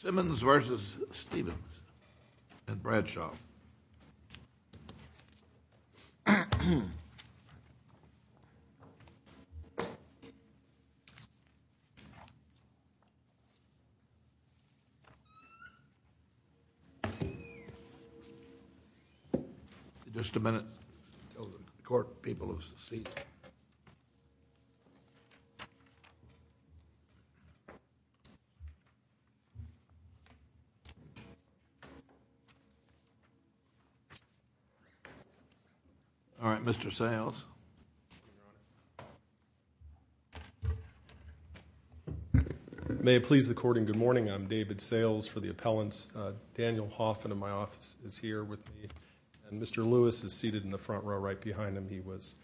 Simmons v. Stevens and Bradshaw just a minute all right mr. sales may it please the court and good morning I'm David sales for the appellants Daniel Hoffman in my office is here with me and mr. Lewis is seated in the front row right behind him he was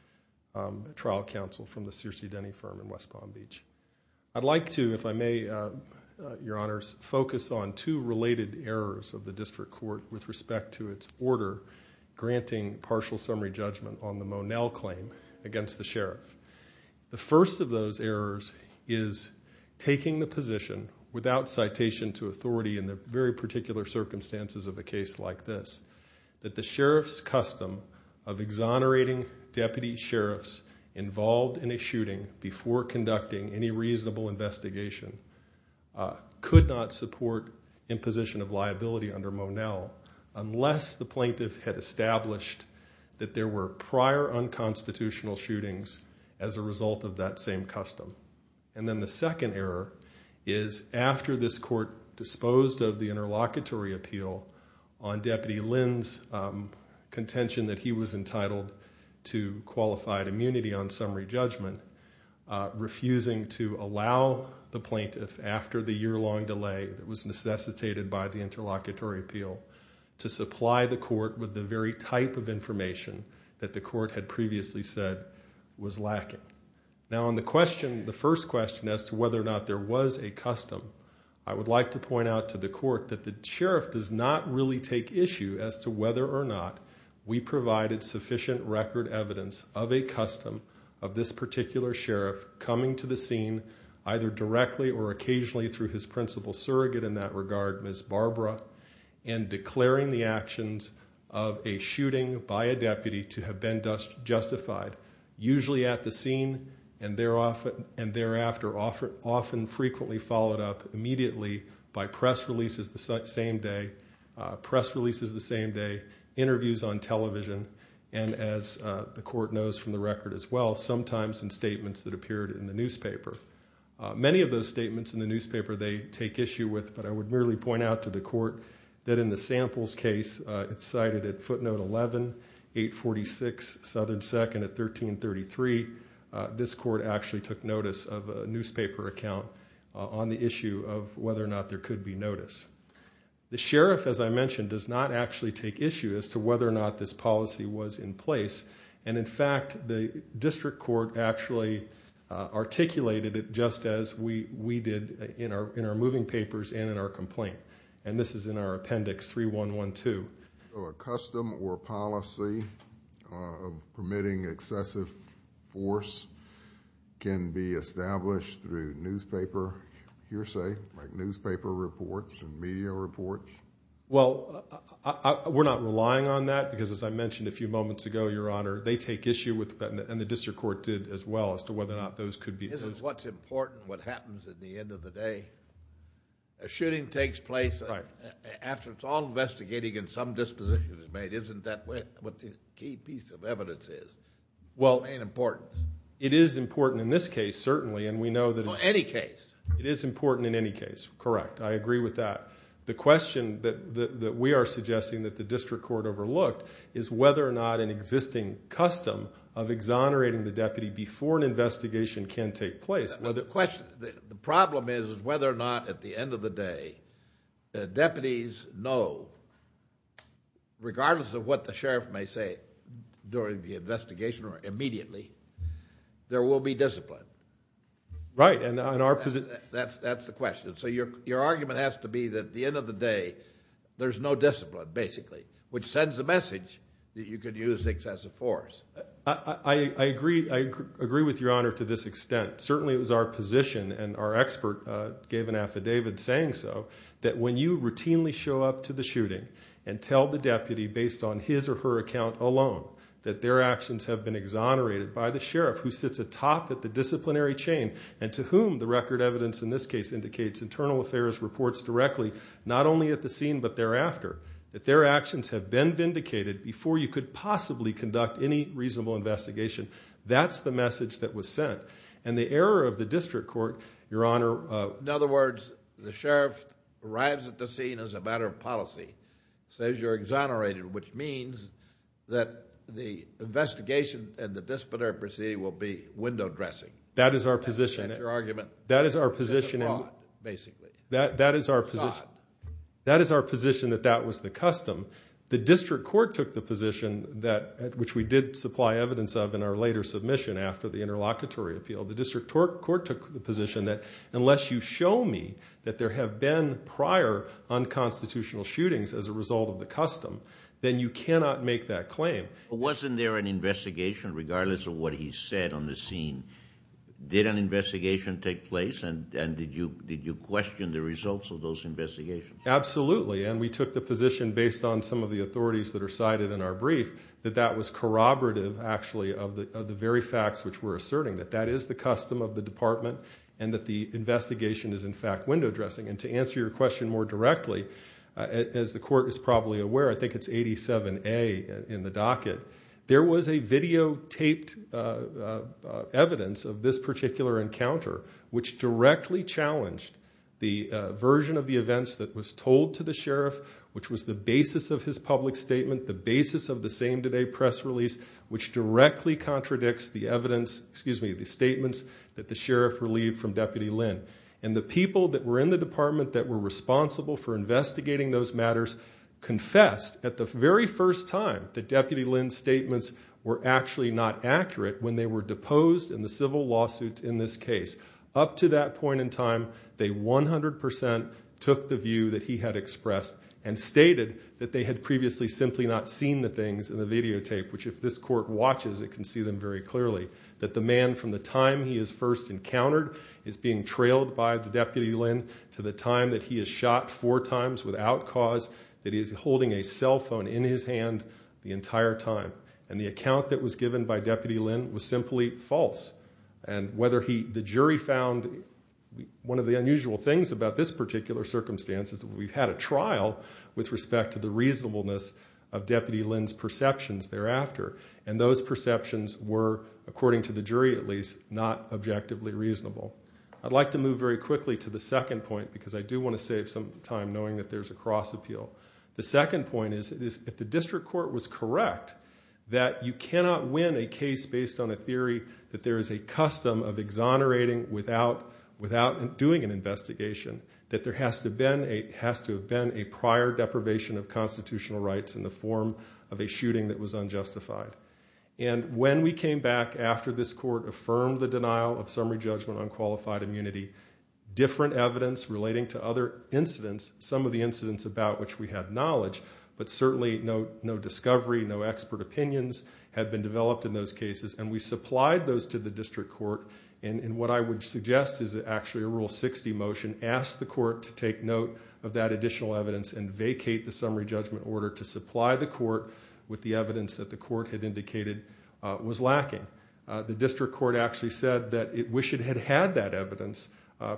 trial counsel from the Searcy Denny firm in West Palm Beach I'd like to if I may your honors focus on two related errors of the district court with respect to its order granting partial summary judgment on the Monell claim against the sheriff the first of those errors is taking the position without citation to authority in the very particular circumstances of a case like this that the sheriff's custom of exonerating deputy sheriffs involved in a shooting before conducting any investigation could not support imposition of liability under Monell unless the plaintiff had established that there were prior unconstitutional shootings as a result of that same custom and then the second error is after this court disposed of the interlocutory appeal on deputy Lynn's contention that he was entitled to qualified immunity on summary judgment refusing to allow the plaintiff after the year-long delay that was necessitated by the interlocutory appeal to supply the court with the very type of information that the court had previously said was lacking now on the question the first question as to whether or not there was a custom I would like to point out to the court that the sheriff does not really take issue as to whether or not we provided sufficient record evidence of a custom of this particular sheriff coming to the scene either directly or occasionally through his principal surrogate in that regard miss Barbara and declaring the actions of a shooting by a deputy to have been just justified usually at the scene and there often and thereafter offer often frequently followed up immediately by press releases the same day press releases the same day interviews on television and as the court knows from the record as well sometimes in statements that appeared in the newspaper many of those statements in the newspaper they take issue with but I would really point out to the court that in the samples case it's cited at footnote 11 846 Southern second at 1333 this court actually took notice of a newspaper account on the issue of whether or not there could be notice the sheriff as I mentioned does not actually take issue as to whether or not this policy was in place and in fact the district court actually articulated it just as we we did in our in our moving papers and in our complaint and this is in our appendix 3 1 1 2 custom or policy of permitting excessive force can be established through newspaper hearsay like newspaper reports and media reports well we're not relying on that because as I mentioned a few moments ago your honor they take issue with that and the district court did as well as to whether or not those could be this is what's important what happens at the end of the day a shooting takes place right after it's all investigating and some disposition is made isn't that way what the key piece of evidence is well an important it is important in this case certainly and we know that any case it is important in any case correct I agree with that the question that we are suggesting that the district court overlooked is whether or not an existing custom of exonerating the deputy before an investigation can take place well the question the problem is whether or not at the end of the day the deputies know regardless of what the sheriff may say during the investigation or immediately there will be discipline right and on our position that's that's the question so your your argument has to be that the end of the day there's no discipline basically which sends the message that you could use things as a force I agree I agree with your honor to this extent certainly it was our position and our expert gave an affidavit saying so that when you routinely show up to the shooting and tell the deputy based on his or her account alone that their actions have been exonerated by the sheriff who sits atop at the disciplinary chain and to whom the record evidence in this case indicates internal affairs reports directly not only at the scene but thereafter that their actions have been vindicated before you could possibly conduct any reasonable investigation that's the message that was sent and the error of the district court your honor in other words the sheriff arrives at the scene as a matter of policy says you're exonerated which means that the investigation and the disciplinary proceeding will be window dressing that is our position your argument that is our position basically that that is our that is our position that that was the custom the district court took the position that which we did supply evidence of in our later submission after the interlocutory appeal the district court took the position that unless you show me that there have been prior unconstitutional shootings as a result of the custom then you cannot make that claim wasn't there an investigation regardless of what he said on the scene did an investigation take place and and did you did you question the results of those investigations absolutely and we took the position based on some of the authorities that are cited in our brief that that was corroborative actually of the very facts which were asserting that that is the custom of the department and that the investigation is in fact window dressing and to answer your question more directly as the court is probably aware I think it's 87 a in the docket there was a videotaped evidence of this particular encounter which directly challenged the version of the events that was told to the sheriff which was the basis of his public statement the basis of the same today press release which directly contradicts the evidence excuse me the statements that the sheriff relieved from deputy Lin and the people that were in the department that were responsible for investigating those matters confessed at the very first time the deputy Lin statements were actually not accurate when they were deposed in the civil lawsuits in this case up to that point in time they 100% took the view that he had expressed and stated that they had previously simply not seen the things in the videotape which if this court watches it can see them very clearly that the man from the time he is first encountered is being trailed by the deputy Lin to the time that he is shot four times without cause that is holding a cell phone in his hand the entire time and the account that was given by deputy Lin was simply false and whether he the jury found one of the unusual things about this particular circumstance is that we've had a trial with respect to the reasonableness of deputy Lin's perceptions thereafter and those perceptions were according to the jury at least not objectively reasonable I'd like to move very quickly to the second point because I do want to save some time knowing that there's a cross appeal the second point is it is if the district court was correct that you cannot win a case based on a theory that there is a custom of exonerating without without and doing an investigation that there has to been a has to have been a prior deprivation of constitutional rights in the form of a shooting that was unjustified and when we came back after this court affirmed the denial of summary judgment on qualified immunity different evidence relating to other incidents some of the incidents about which we have knowledge but certainly no no discovery no expert opinions have been developed in those cases and we supplied those to the district court and what I would suggest is actually a rule 60 motion asked the court to take note of that additional evidence and vacate the summary judgment order to supply the court with the evidence that the court had indicated was lacking the district court actually said that it wish it had had that evidence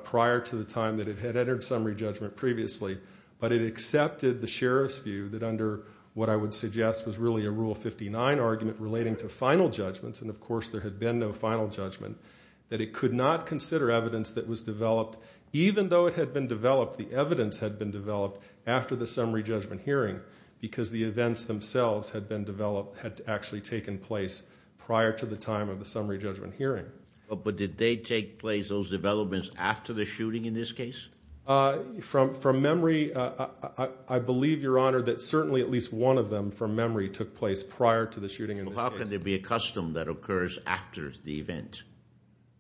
prior to the time that it had entered summary judgment previously but it accepted the sheriff's view that under what I would suggest was really a rule 59 argument relating to final judgments and of course there had been no final judgment that it could not consider evidence that was developed even though it had been developed the evidence had been developed after the summary judgment hearing because the events themselves had been developed had actually taken place prior to the time of the summary judgment hearing but but did they take place those developments after the shooting in this case from from memory I believe your honor that certainly at least one of them from memory took place prior to the shooting how can there be a custom that occurs after the event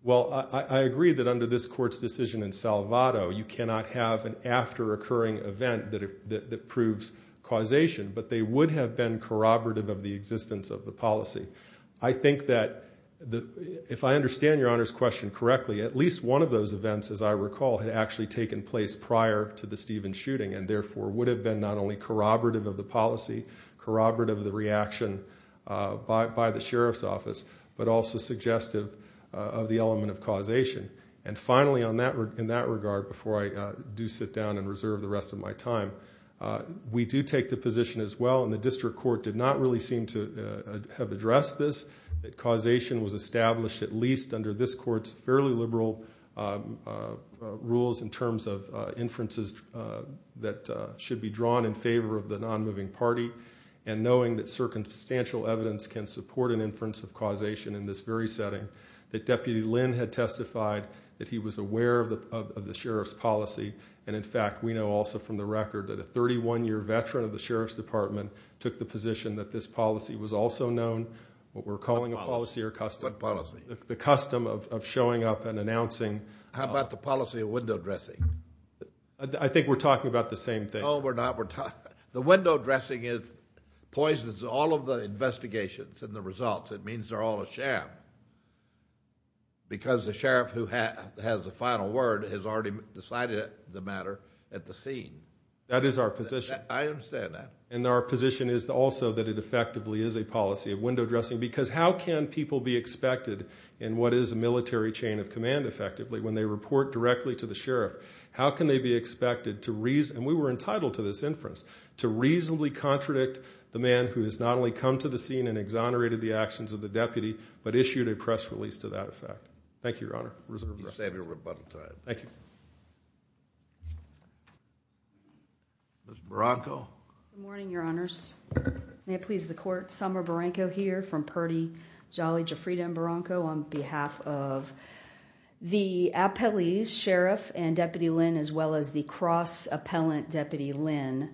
well I agree that under this court's decision in Salvato you cannot have an after occurring event that it proves causation but they would have been corroborative of the existence of the policy I think that the if I understand your honors question correctly at least one of those events as I recall had actually taken place prior to the Stephen shooting and therefore would have been not only corroborative of the policy corroborative of the reaction by the sheriff's office but also suggestive of the element of causation and finally on that in that regard before I do sit down and reserve the rest of my time we do take the position as well and the district court did not really seem to have addressed this that causation was established at least under this courts fairly liberal rules in terms of inferences that should be drawn in favor of the non-moving party and knowing that circumstantial evidence can support an inference of causation in this very setting that deputy Lynn had testified that he was aware of the sheriff's policy and in fact we know also from the record that a 31-year veteran of the sheriff's department took the position that this policy was also known what we're calling a policy or custom policy the custom of showing up and announcing how about the policy of window dressing I think we're talking about the same thing oh we're not we're talking the window dressing is poisons all of the investigations and the results it means they're all a sham because the sheriff who has the final word has already decided the matter at the scene that is our position I understand that and our position is also that it effectively is a policy of window dressing because how can people be expected in what is a military chain of command effectively when they report directly to the sheriff how can they be expected to reason we were entitled to this inference to reasonably contradict the man who has not only come to the scene and exonerated the actions of the deputy but issued a press release to that effect thank you your honor reserve your rebuttal time thank you Bronco morning your honors may it please the court summer Barranco here from Purdy jolly Jafrita and Bronco on behalf of the appellees sheriff and deputy Lynn as well as the cross appellant deputy Lynn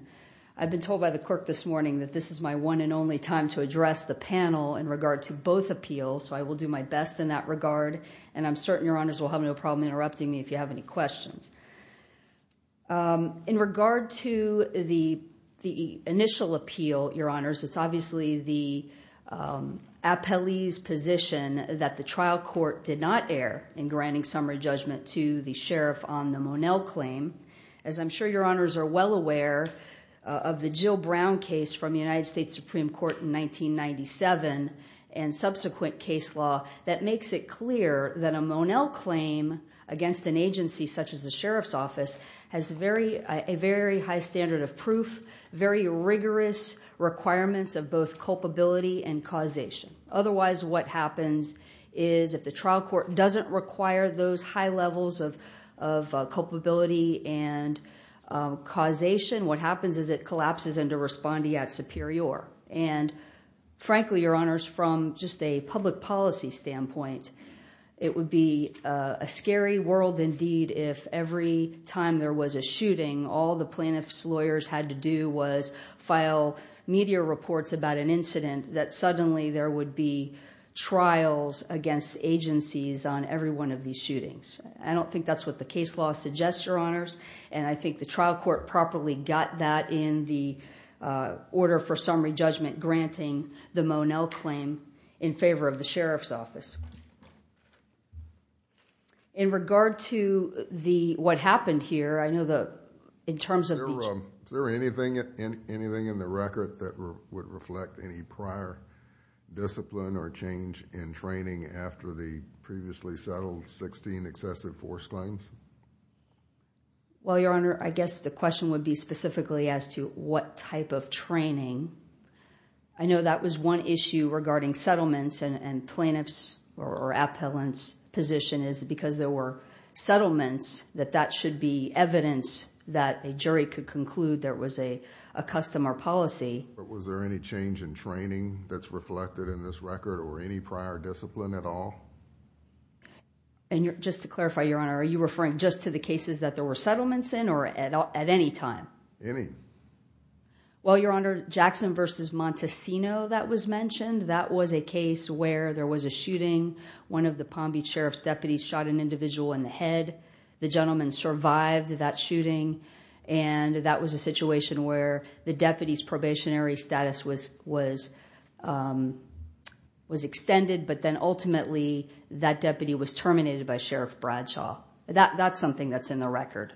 I've been told by the clerk this morning that this is my one and only time to address the panel in regard to both appeal so I will do my best in that regard and I'm certain your honors will have no problem interrupting me if you have any questions in regard to the the initial appeal your honors it's obviously the appellees position that the trial court did not air in granting summary judgment to the sheriff on the Monell claim as I'm sure your honors are well aware of the Jill Brown case from the United States Supreme Court in 1997 and subsequent case law that makes it clear that a Monell claim against an agency such as the sheriff's office has very a very high standard of proof very rigorous requirements of both culpability and causation otherwise what happens is if the trial court doesn't require those high levels of of culpability and causation what happens is it collapses into responding at superior and frankly your honors from just a public policy standpoint it would be a scary world indeed if every time there was a shooting all the plaintiffs lawyers had to do was file media reports about an incident that suddenly there would be trials against agencies on every one of these shootings I don't think that's what the case law suggests your honors and I think the trial court properly got that in the order for summary judgment granting the Monell claim in favor of the sheriff's office in regard to the what happened here I know that in terms of there anything in anything in the record that would reflect any prior discipline or change in training after the previously settled 16 excessive force claims well your honor I guess the question would be specifically as to what type of training I know that was one issue regarding settlements and plaintiffs or appellants position is because there were settlements that that should be evidence that a jury could conclude there was a custom or policy but was there any change in training that's reflected in this record or any prior discipline at all and you're just to clarify your honor are you referring just to the cases that there were settlements in or at all at any time any well your honor Jackson versus Montesino that was mentioned that was a case where there was a shooting one of the Palm Beach Sheriff's deputies shot an individual in the head the gentleman survived that shooting and that was a situation where the deputies probationary status was was was extended but then ultimately that deputy was terminated by Sheriff Bradshaw that that's something that's in the record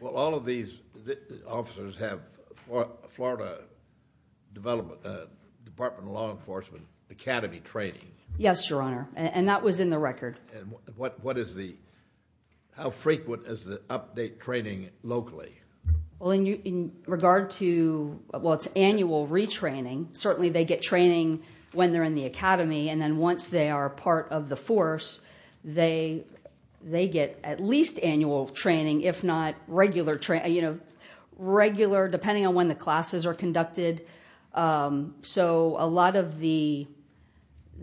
well all of these officers have Florida development Department of Law Enforcement Academy training yes your honor and that was in the record and what what is the how frequent is the update training locally well in you in regard to what's annual retraining certainly they get training when they're in the Academy and then once they are part of the force they they get at least annual training if not regular training you know regular depending on when the classes are conducted so a lot of the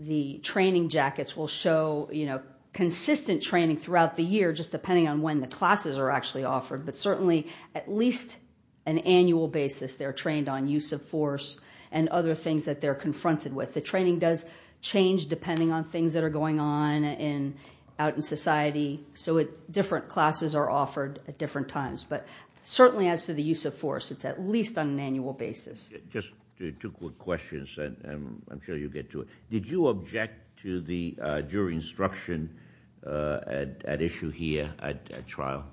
the training jackets will show you know consistent training throughout the year just depending on when the classes are actually offered but certainly at least an annual basis they're trained on use of force and other things that they're confronted with the training does change depending on things that are going on in out in society so it different classes are offered at different times but certainly as to the use of force it's at least on an annual basis just two quick questions and I'm sure you get to it did you object to the jury instruction at issue here at trial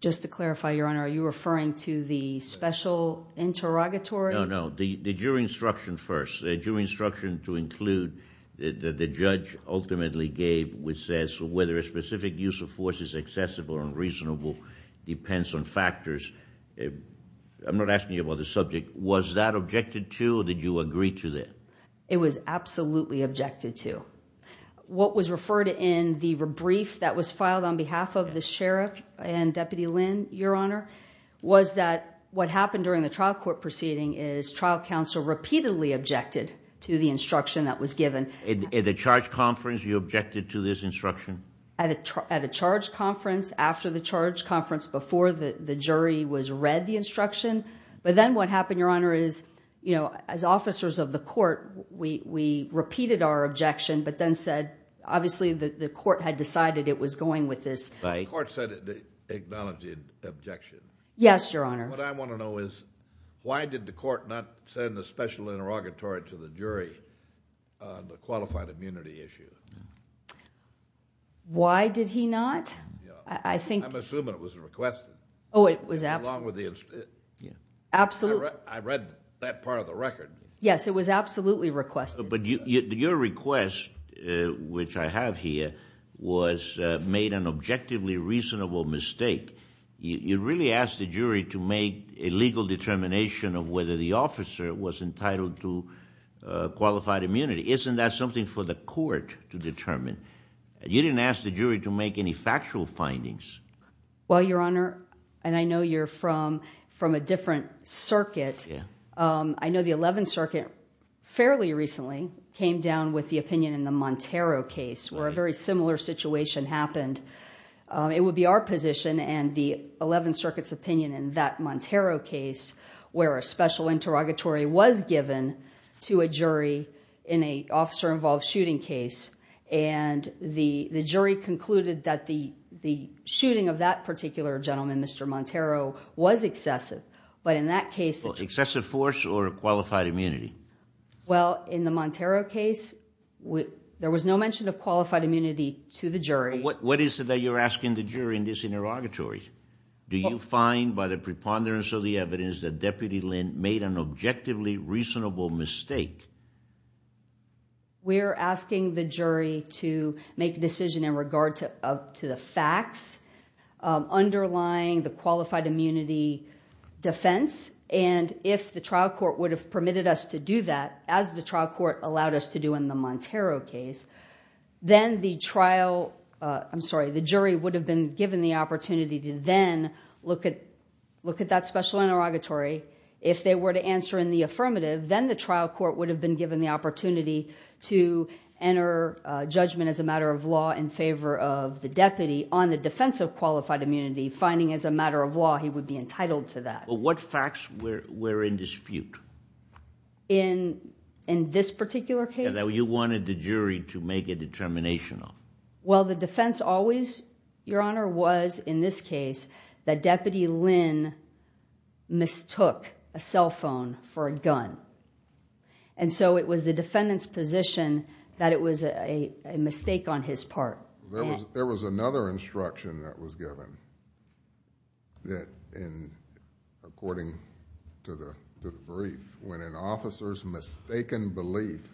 just to clarify your honor are you referring to the special interrogatory no no the jury instruction first the jury instruction to include that the judge ultimately gave which says whether a specific use of force is accessible and reasonable depends on factors if I'm not asking you about the subject was that objected to did you agree to that it was absolutely objected to what was referred in the brief that was filed on behalf of the sheriff and was that what happened during the trial court proceeding is trial counsel repeatedly objected to the instruction that was given in the charge conference you objected to this instruction at a charge conference after the charge conference before the the jury was read the instruction but then what happened your honor is you know as officers of the court we repeated our objection but then said obviously the court had decided it was going with this by court said it acknowledged the objection yes your honor what I want to know is why did the court not send the special interrogatory to the jury the qualified immunity issue why did he not I think I'm assuming it was requested oh it was absolutely I read that part of the record yes it was absolutely requested but your request which I have here was made an objectively reasonable mistake you really asked the jury to make a legal determination of whether the officer was entitled to qualified immunity isn't that something for the court to determine you didn't ask the jury to make any factual findings well your honor and I know you're from from a different circuit I know the 11th Circuit fairly recently came down with the opinion in the Montero case where a similar situation happened it would be our position and the 11th Circuit's opinion in that Montero case where a special interrogatory was given to a jury in a officer involved shooting case and the the jury concluded that the the shooting of that particular gentleman mr. Montero was excessive but in that case excessive force or a qualified immunity well in the Montero case with there was no mention of qualified immunity to the jury what what is it that you're asking the jury in this interrogatory do you find by the preponderance of the evidence that deputy Lynn made an objectively reasonable mistake we're asking the jury to make a decision in regard to up to the facts underlying the qualified immunity defense and if the trial court would have permitted us to do that as the trial court allowed us to do in the trial I'm sorry the jury would have been given the opportunity to then look at look at that special interrogatory if they were to answer in the affirmative then the trial court would have been given the opportunity to enter judgment as a matter of law in favor of the deputy on the defense of qualified immunity finding as a matter of law he would be entitled to that what facts where we're in dispute in in this particular case now you wanted the jury to make a determination on well the defense always your honor was in this case that deputy Lynn mistook a cell phone for a gun and so it was the defendant's position that it was a mistake on his part there was there was another instruction that was given that in according to the brief when an officer's mistaken belief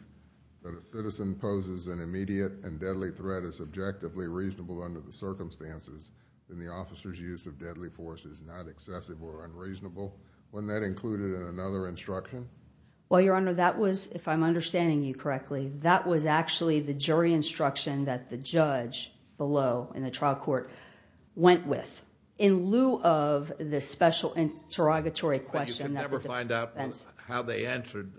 that a citizen poses an immediate and deadly threat is subjectively reasonable under the circumstances then the officers use of deadly force is not excessive or unreasonable when that included another instruction well your honor that was if I'm understanding you correctly that was actually the jury instruction that the judge below in the trial court went with in lieu of this special interrogatory question never find out that's how they answered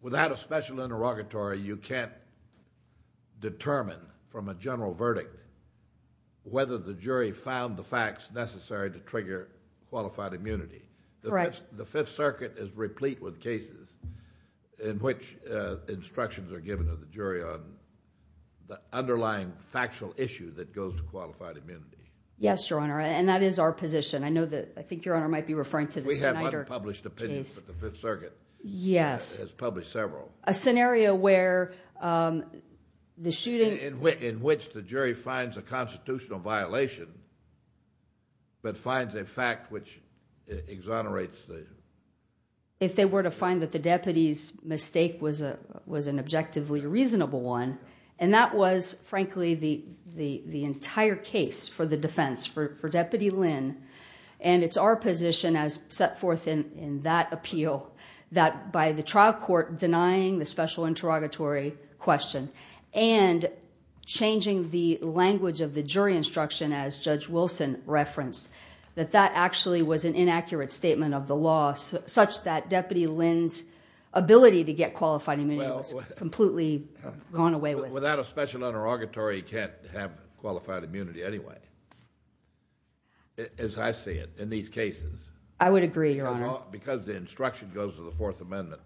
without a special interrogatory you can't determine from a general verdict whether the jury found the facts necessary to trigger qualified immunity the rest the Fifth Circuit is replete with cases in which instructions are given to the jury on the underlying factual issue that goes to qualified immunity yes your honor and that is our position I know that I think your honor might be referring to the published opinions of the Fifth Circuit yes has where the shooting in which the jury finds a constitutional violation but finds a fact which exonerates the if they were to find that the deputies mistake was a was an objectively reasonable one and that was frankly the the entire case for the defense for deputy Lynn and it's our position as set forth in in that appeal that by the trial court denying the special interrogatory question and changing the language of the jury instruction as judge Wilson referenced that that actually was an inaccurate statement of the loss such that deputy Lynn's ability to get qualified immunity was completely gone away with without a special interrogatory can't have qualified immunity anyway as I see it in these cases I would agree your honor because the instruction goes to the Fourth Amendment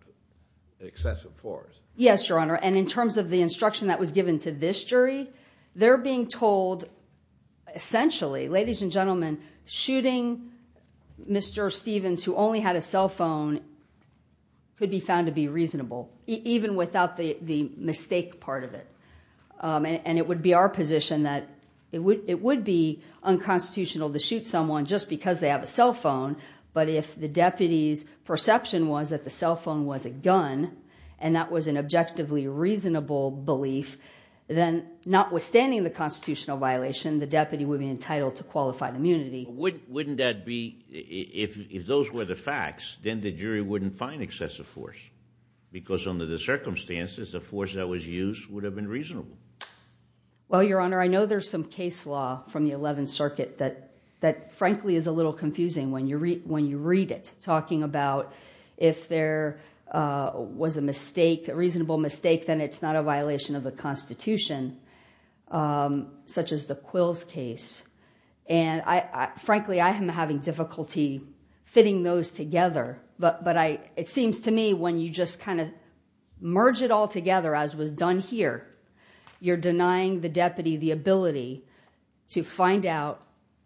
excessive force yes your honor and in terms of the instruction that was given to this jury they're being told essentially ladies and gentlemen shooting mr. Stevens who only had a cell phone could be found to be reasonable even without the the mistake part of it and it would be our position that it would it would be unconstitutional to shoot someone just because they have a cell phone but if the deputies perception was that the cell phone was a gun and that was an objectively reasonable belief then not withstanding the constitutional violation the deputy would be entitled to qualified immunity would wouldn't that be if those were the facts then the jury wouldn't find excessive force because under the circumstances the force that was used would have been reasonable well your honor I know there's some case law from the 11th circuit that that frankly is a little confusing when you read when you read it talking about if there was a mistake a reasonable mistake then it's not a violation of the Constitution such as the quills case and I frankly I am having difficulty fitting those together but but I it seems to me when you just kind of merge it all together as was done here you're denying the deputy the ability to find out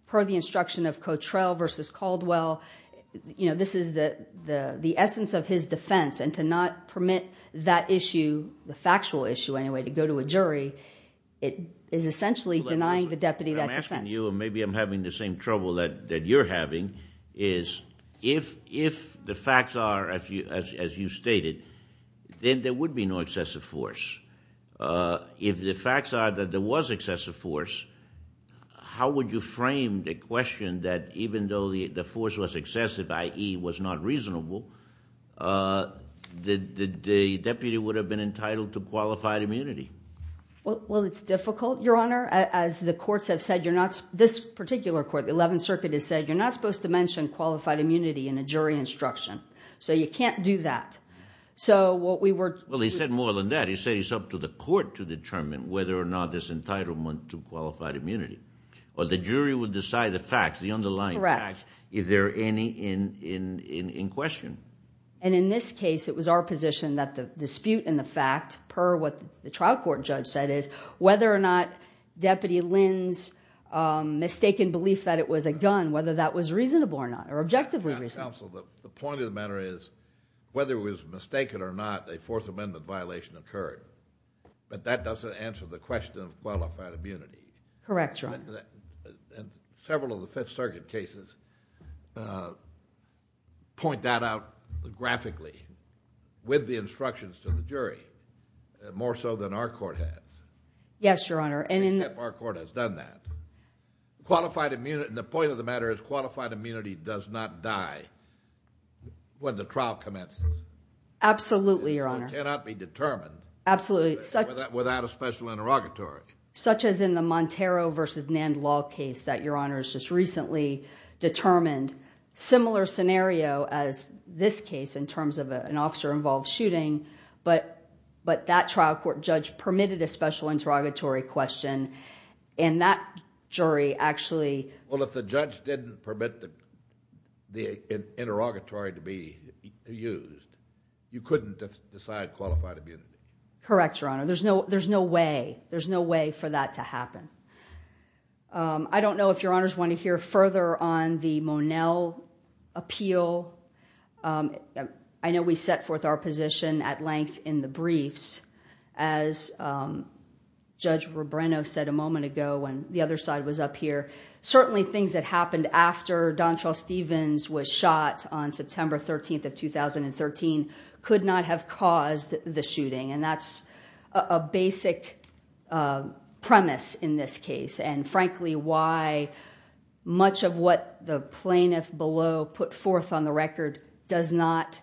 per the instruction of Cotrell versus Caldwell you know this is that the the essence of his defense and to not permit that issue the factual issue anyway to go to a jury it is essentially denying the deputy that you and maybe I'm having the same trouble that that you're having is if if the facts are as you as you stated then there would be no excessive force if the facts are that there was excessive force how would you frame the question that even though the force was excessive ie was not reasonable the deputy would have been entitled to qualified immunity well well it's difficult your honor as the courts have said you're not this particular court the 11th Circuit has said you're not supposed to mention qualified immunity in a jury instruction so you can't do that so what we were well he said more than that he said he's up to the court to determine whether or not this entitlement to qualified immunity or the jury would decide the facts the any in in in question and in this case it was our position that the dispute in the fact per what the trial court judge said is whether or not deputy Lynn's mistaken belief that it was a gun whether that was reasonable or not or objectively reason also the point of the matter is whether it was mistaken or not a fourth amendment violation occurred but that doesn't answer the question of qualified immunity correct wrong and point that out graphically with the instructions to the jury more so than our court head yes your honor and in our court has done that qualified immunity the point of the matter is qualified immunity does not die when the trial commences absolutely your honor cannot be determined absolutely such without a special interrogatory such as in the Montero versus Nand law case that your honor's just recently determined similar scenario as this case in terms of an officer involved shooting but but that trial court judge permitted a special interrogatory question and that jury actually well if the judge didn't permit the interrogatory to be used you couldn't decide qualified immunity correct your honor there's no there's no way there's no way for that to happen I don't know if your honors want to hear further on the Monell appeal I know we set forth our position at length in the briefs as judge were Brenner said a moment ago when the other side was up here certainly things that happened after Don Charles Stevens was shot on September 13th of 2013 could not have caused the shooting and that's a basic premise in this case and frankly why much of what the plaintiff below put forth on the record does not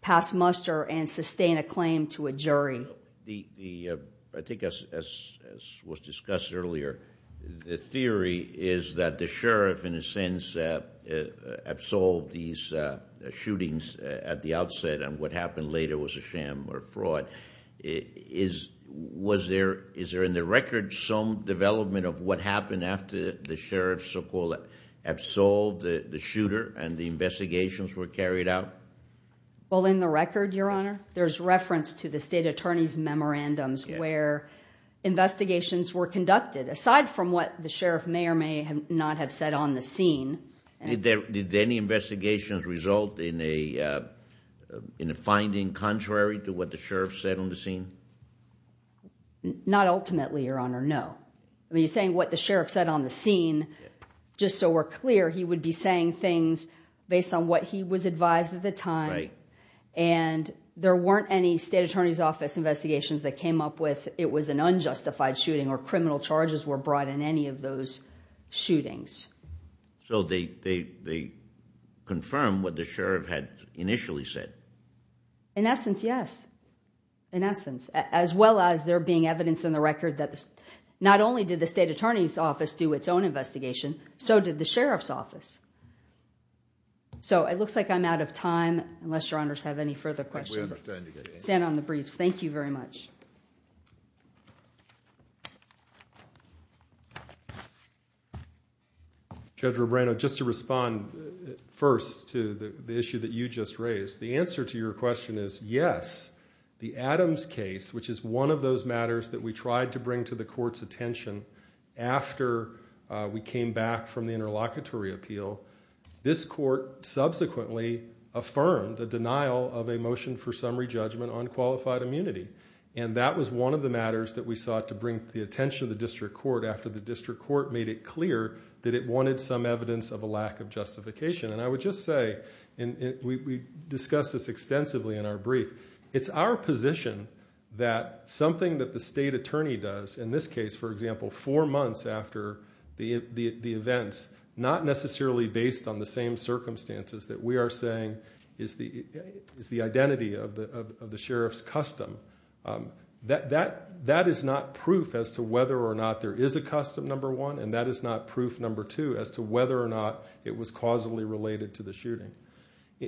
pass muster and sustain a claim to a jury the I think as was discussed earlier the theory is that the sheriff in a sense absolved these shootings at the outset and what happened later was a sham or fraud is was there is there in the record some development of what happened after the sheriff so-called absolved the shooter and the investigations were carried out well in the record your honor there's reference to the state attorney's memorandums where investigations were conducted aside from what the sheriff may or may have not have said on the scene and there did any investigations result in a in a finding contrary to what the sheriff said on the scene not ultimately your honor no I mean you're saying what the sheriff said on the scene just so we're clear he would be saying things based on what he was advised at the time and there weren't any state attorney's office investigations that came up with it was an unjustified shooting or criminal charges were brought in any of those shootings so they they confirm what the yes in essence as well as there being evidence in the record that not only did the state attorney's office do its own investigation so did the sheriff's office so it looks like I'm out of time unless your honors have any further questions stand on the briefs thank you very much Judge Robrano just to respond first to the issue that you just raised the yes the Adams case which is one of those matters that we tried to bring to the court's attention after we came back from the interlocutory appeal this court subsequently affirmed a denial of a motion for summary judgment on qualified immunity and that was one of the matters that we sought to bring the attention of the district court after the district court made it clear that it wanted some evidence of a lack of justification and I would just say and we discussed this it's our position that something that the state attorney does in this case for example four months after the the events not necessarily based on the same circumstances that we are saying is the is the identity of the of the sheriff's custom that that that is not proof as to whether or not there is a custom number one and that is not proof number two as to whether or not it was causally related to the shooting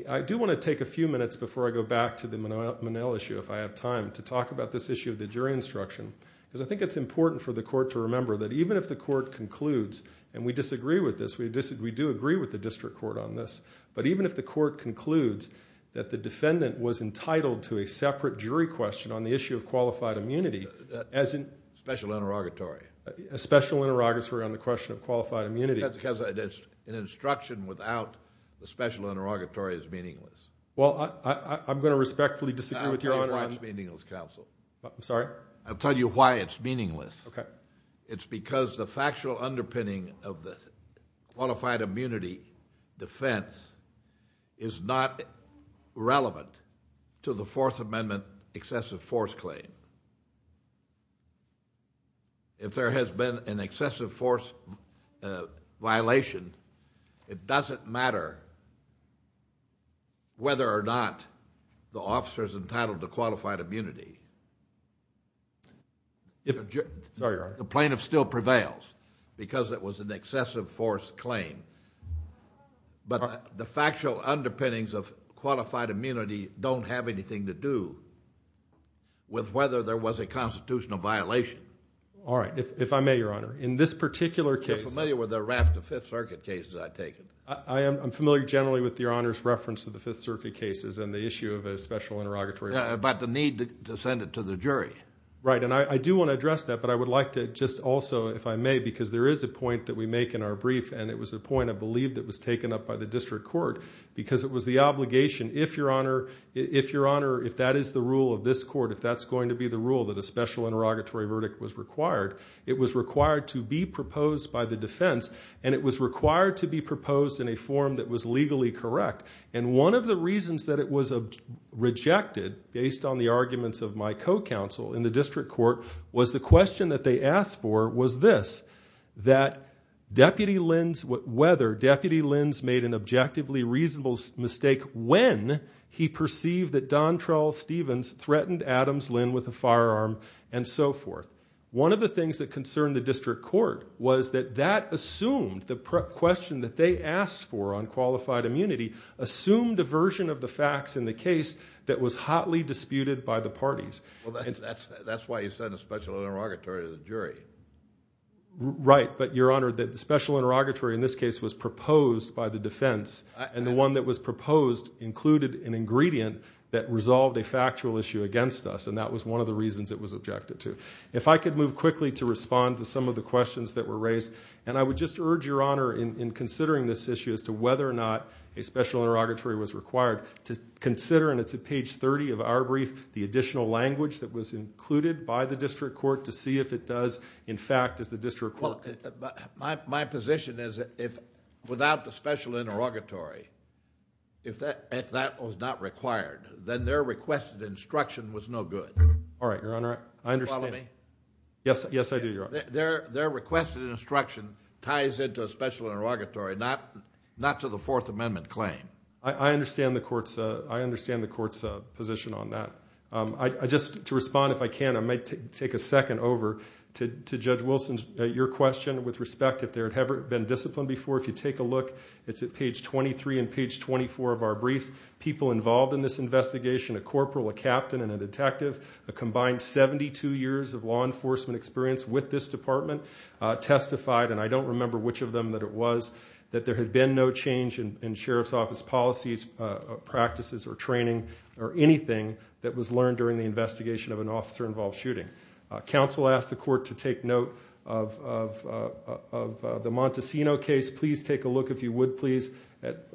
I do want to take a few minutes before I go back to the Manila issue if I have time to talk about this issue of the jury instruction because I think it's important for the court to remember that even if the court concludes and we disagree with this we disagree do agree with the district court on this but even if the court concludes that the defendant was entitled to a separate jury question on the issue of qualified immunity as in special interrogatory a special interrogatory on the question of qualified immunity that's because it is an instruction without the special interrogatory is meaningless well I'm going to respectfully disagree with your honor I'm sorry I'll tell you why it's meaningless okay it's because the factual underpinning of the qualified immunity defense is not relevant to the Fourth Amendment excessive force claim if there has been an excessive force violation it doesn't matter whether or not the officers entitled to qualified immunity if the plaintiff still prevails because it was an excessive force claim but the factual underpinnings of qualified immunity don't have anything to do with whether there was a constitutional violation all right if I may your honor in this particular case familiar with the raft of Fifth Circuit cases I take it I am familiar generally with your honors reference to the Fifth Circuit issue of a special interrogatory about the need to send it to the jury right and I do want to address that but I would like to just also if I may because there is a point that we make in our brief and it was a point I believe that was taken up by the district court because it was the obligation if your honor if your honor if that is the rule of this court if that's going to be the rule that a special interrogatory verdict was required it was required to be proposed by the defense and it was required to be proposed in a form that was legally correct and one of the reasons that it was a rejected based on the arguments of my co-counsel in the district court was the question that they asked for was this that deputy lens what whether deputy lens made an objectively reasonable mistake when he perceived that Don trawl Stevens threatened Adams Lynn with a firearm and so forth one of the things that concern the district court was that that assumed the question that they asked for on qualified immunity assumed a version of the facts in the case that was hotly disputed by the parties well that's that's why you said a special interrogatory to the jury right but your honor that the special interrogatory in this case was proposed by the defense and the one that was proposed included an ingredient that resolved a factual issue against us and that was one of the reasons it was objected to if I could move quickly to respond to some of the questions that were raised and I would just urge your honor in considering this issue as to whether or not a special interrogatory was required to consider and it's a page 30 of our brief the additional language that was included by the district court to see if it does in fact as the district well my position is if without the special interrogatory if that if that was not required then their requested instruction was no good all right your honor I understand me yes yes I do your their their requested instruction ties into a special interrogatory not not to the Fourth Amendment claim I understand the courts I understand the courts position on that I just to respond if I can I might take a second over to Judge Wilson's your question with respect if there had ever been disciplined before if you take a look it's at page 23 and page 24 of our briefs people involved in this investigation a corporal a captain and a detective a combined 72 years of law enforcement experience with this department testified and I don't remember which of them that it was that there had been no change in Sheriff's Office policies practices or training or anything that was learned during the investigation of an officer involved shooting council asked the court to take note of the Montesino case please take a look if you would please at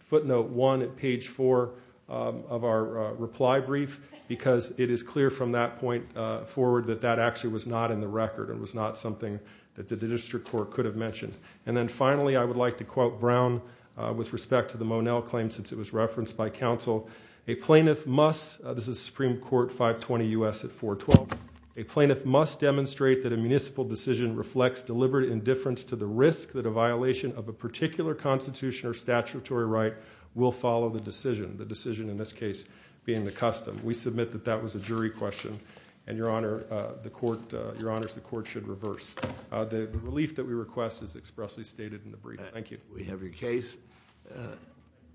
footnote 1 at page 4 of our reply brief because it is clear from that point forward that that actually was not in the record it was not something that the district court could have mentioned and then I would like to quote Brown with respect to the Monell claim since it was referenced by counsel a plaintiff must this is Supreme Court 520 us at 412 a plaintiff must demonstrate that a municipal decision reflects deliberate indifference to the risk that a violation of a particular Constitution or statutory right will follow the decision the decision in this case being the custom we submit that that was a jury question and your honor the court your honors the court should reverse the relief that we request is expressly stated in the brief thank you we have your case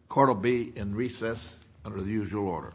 court will be in recess under the usual order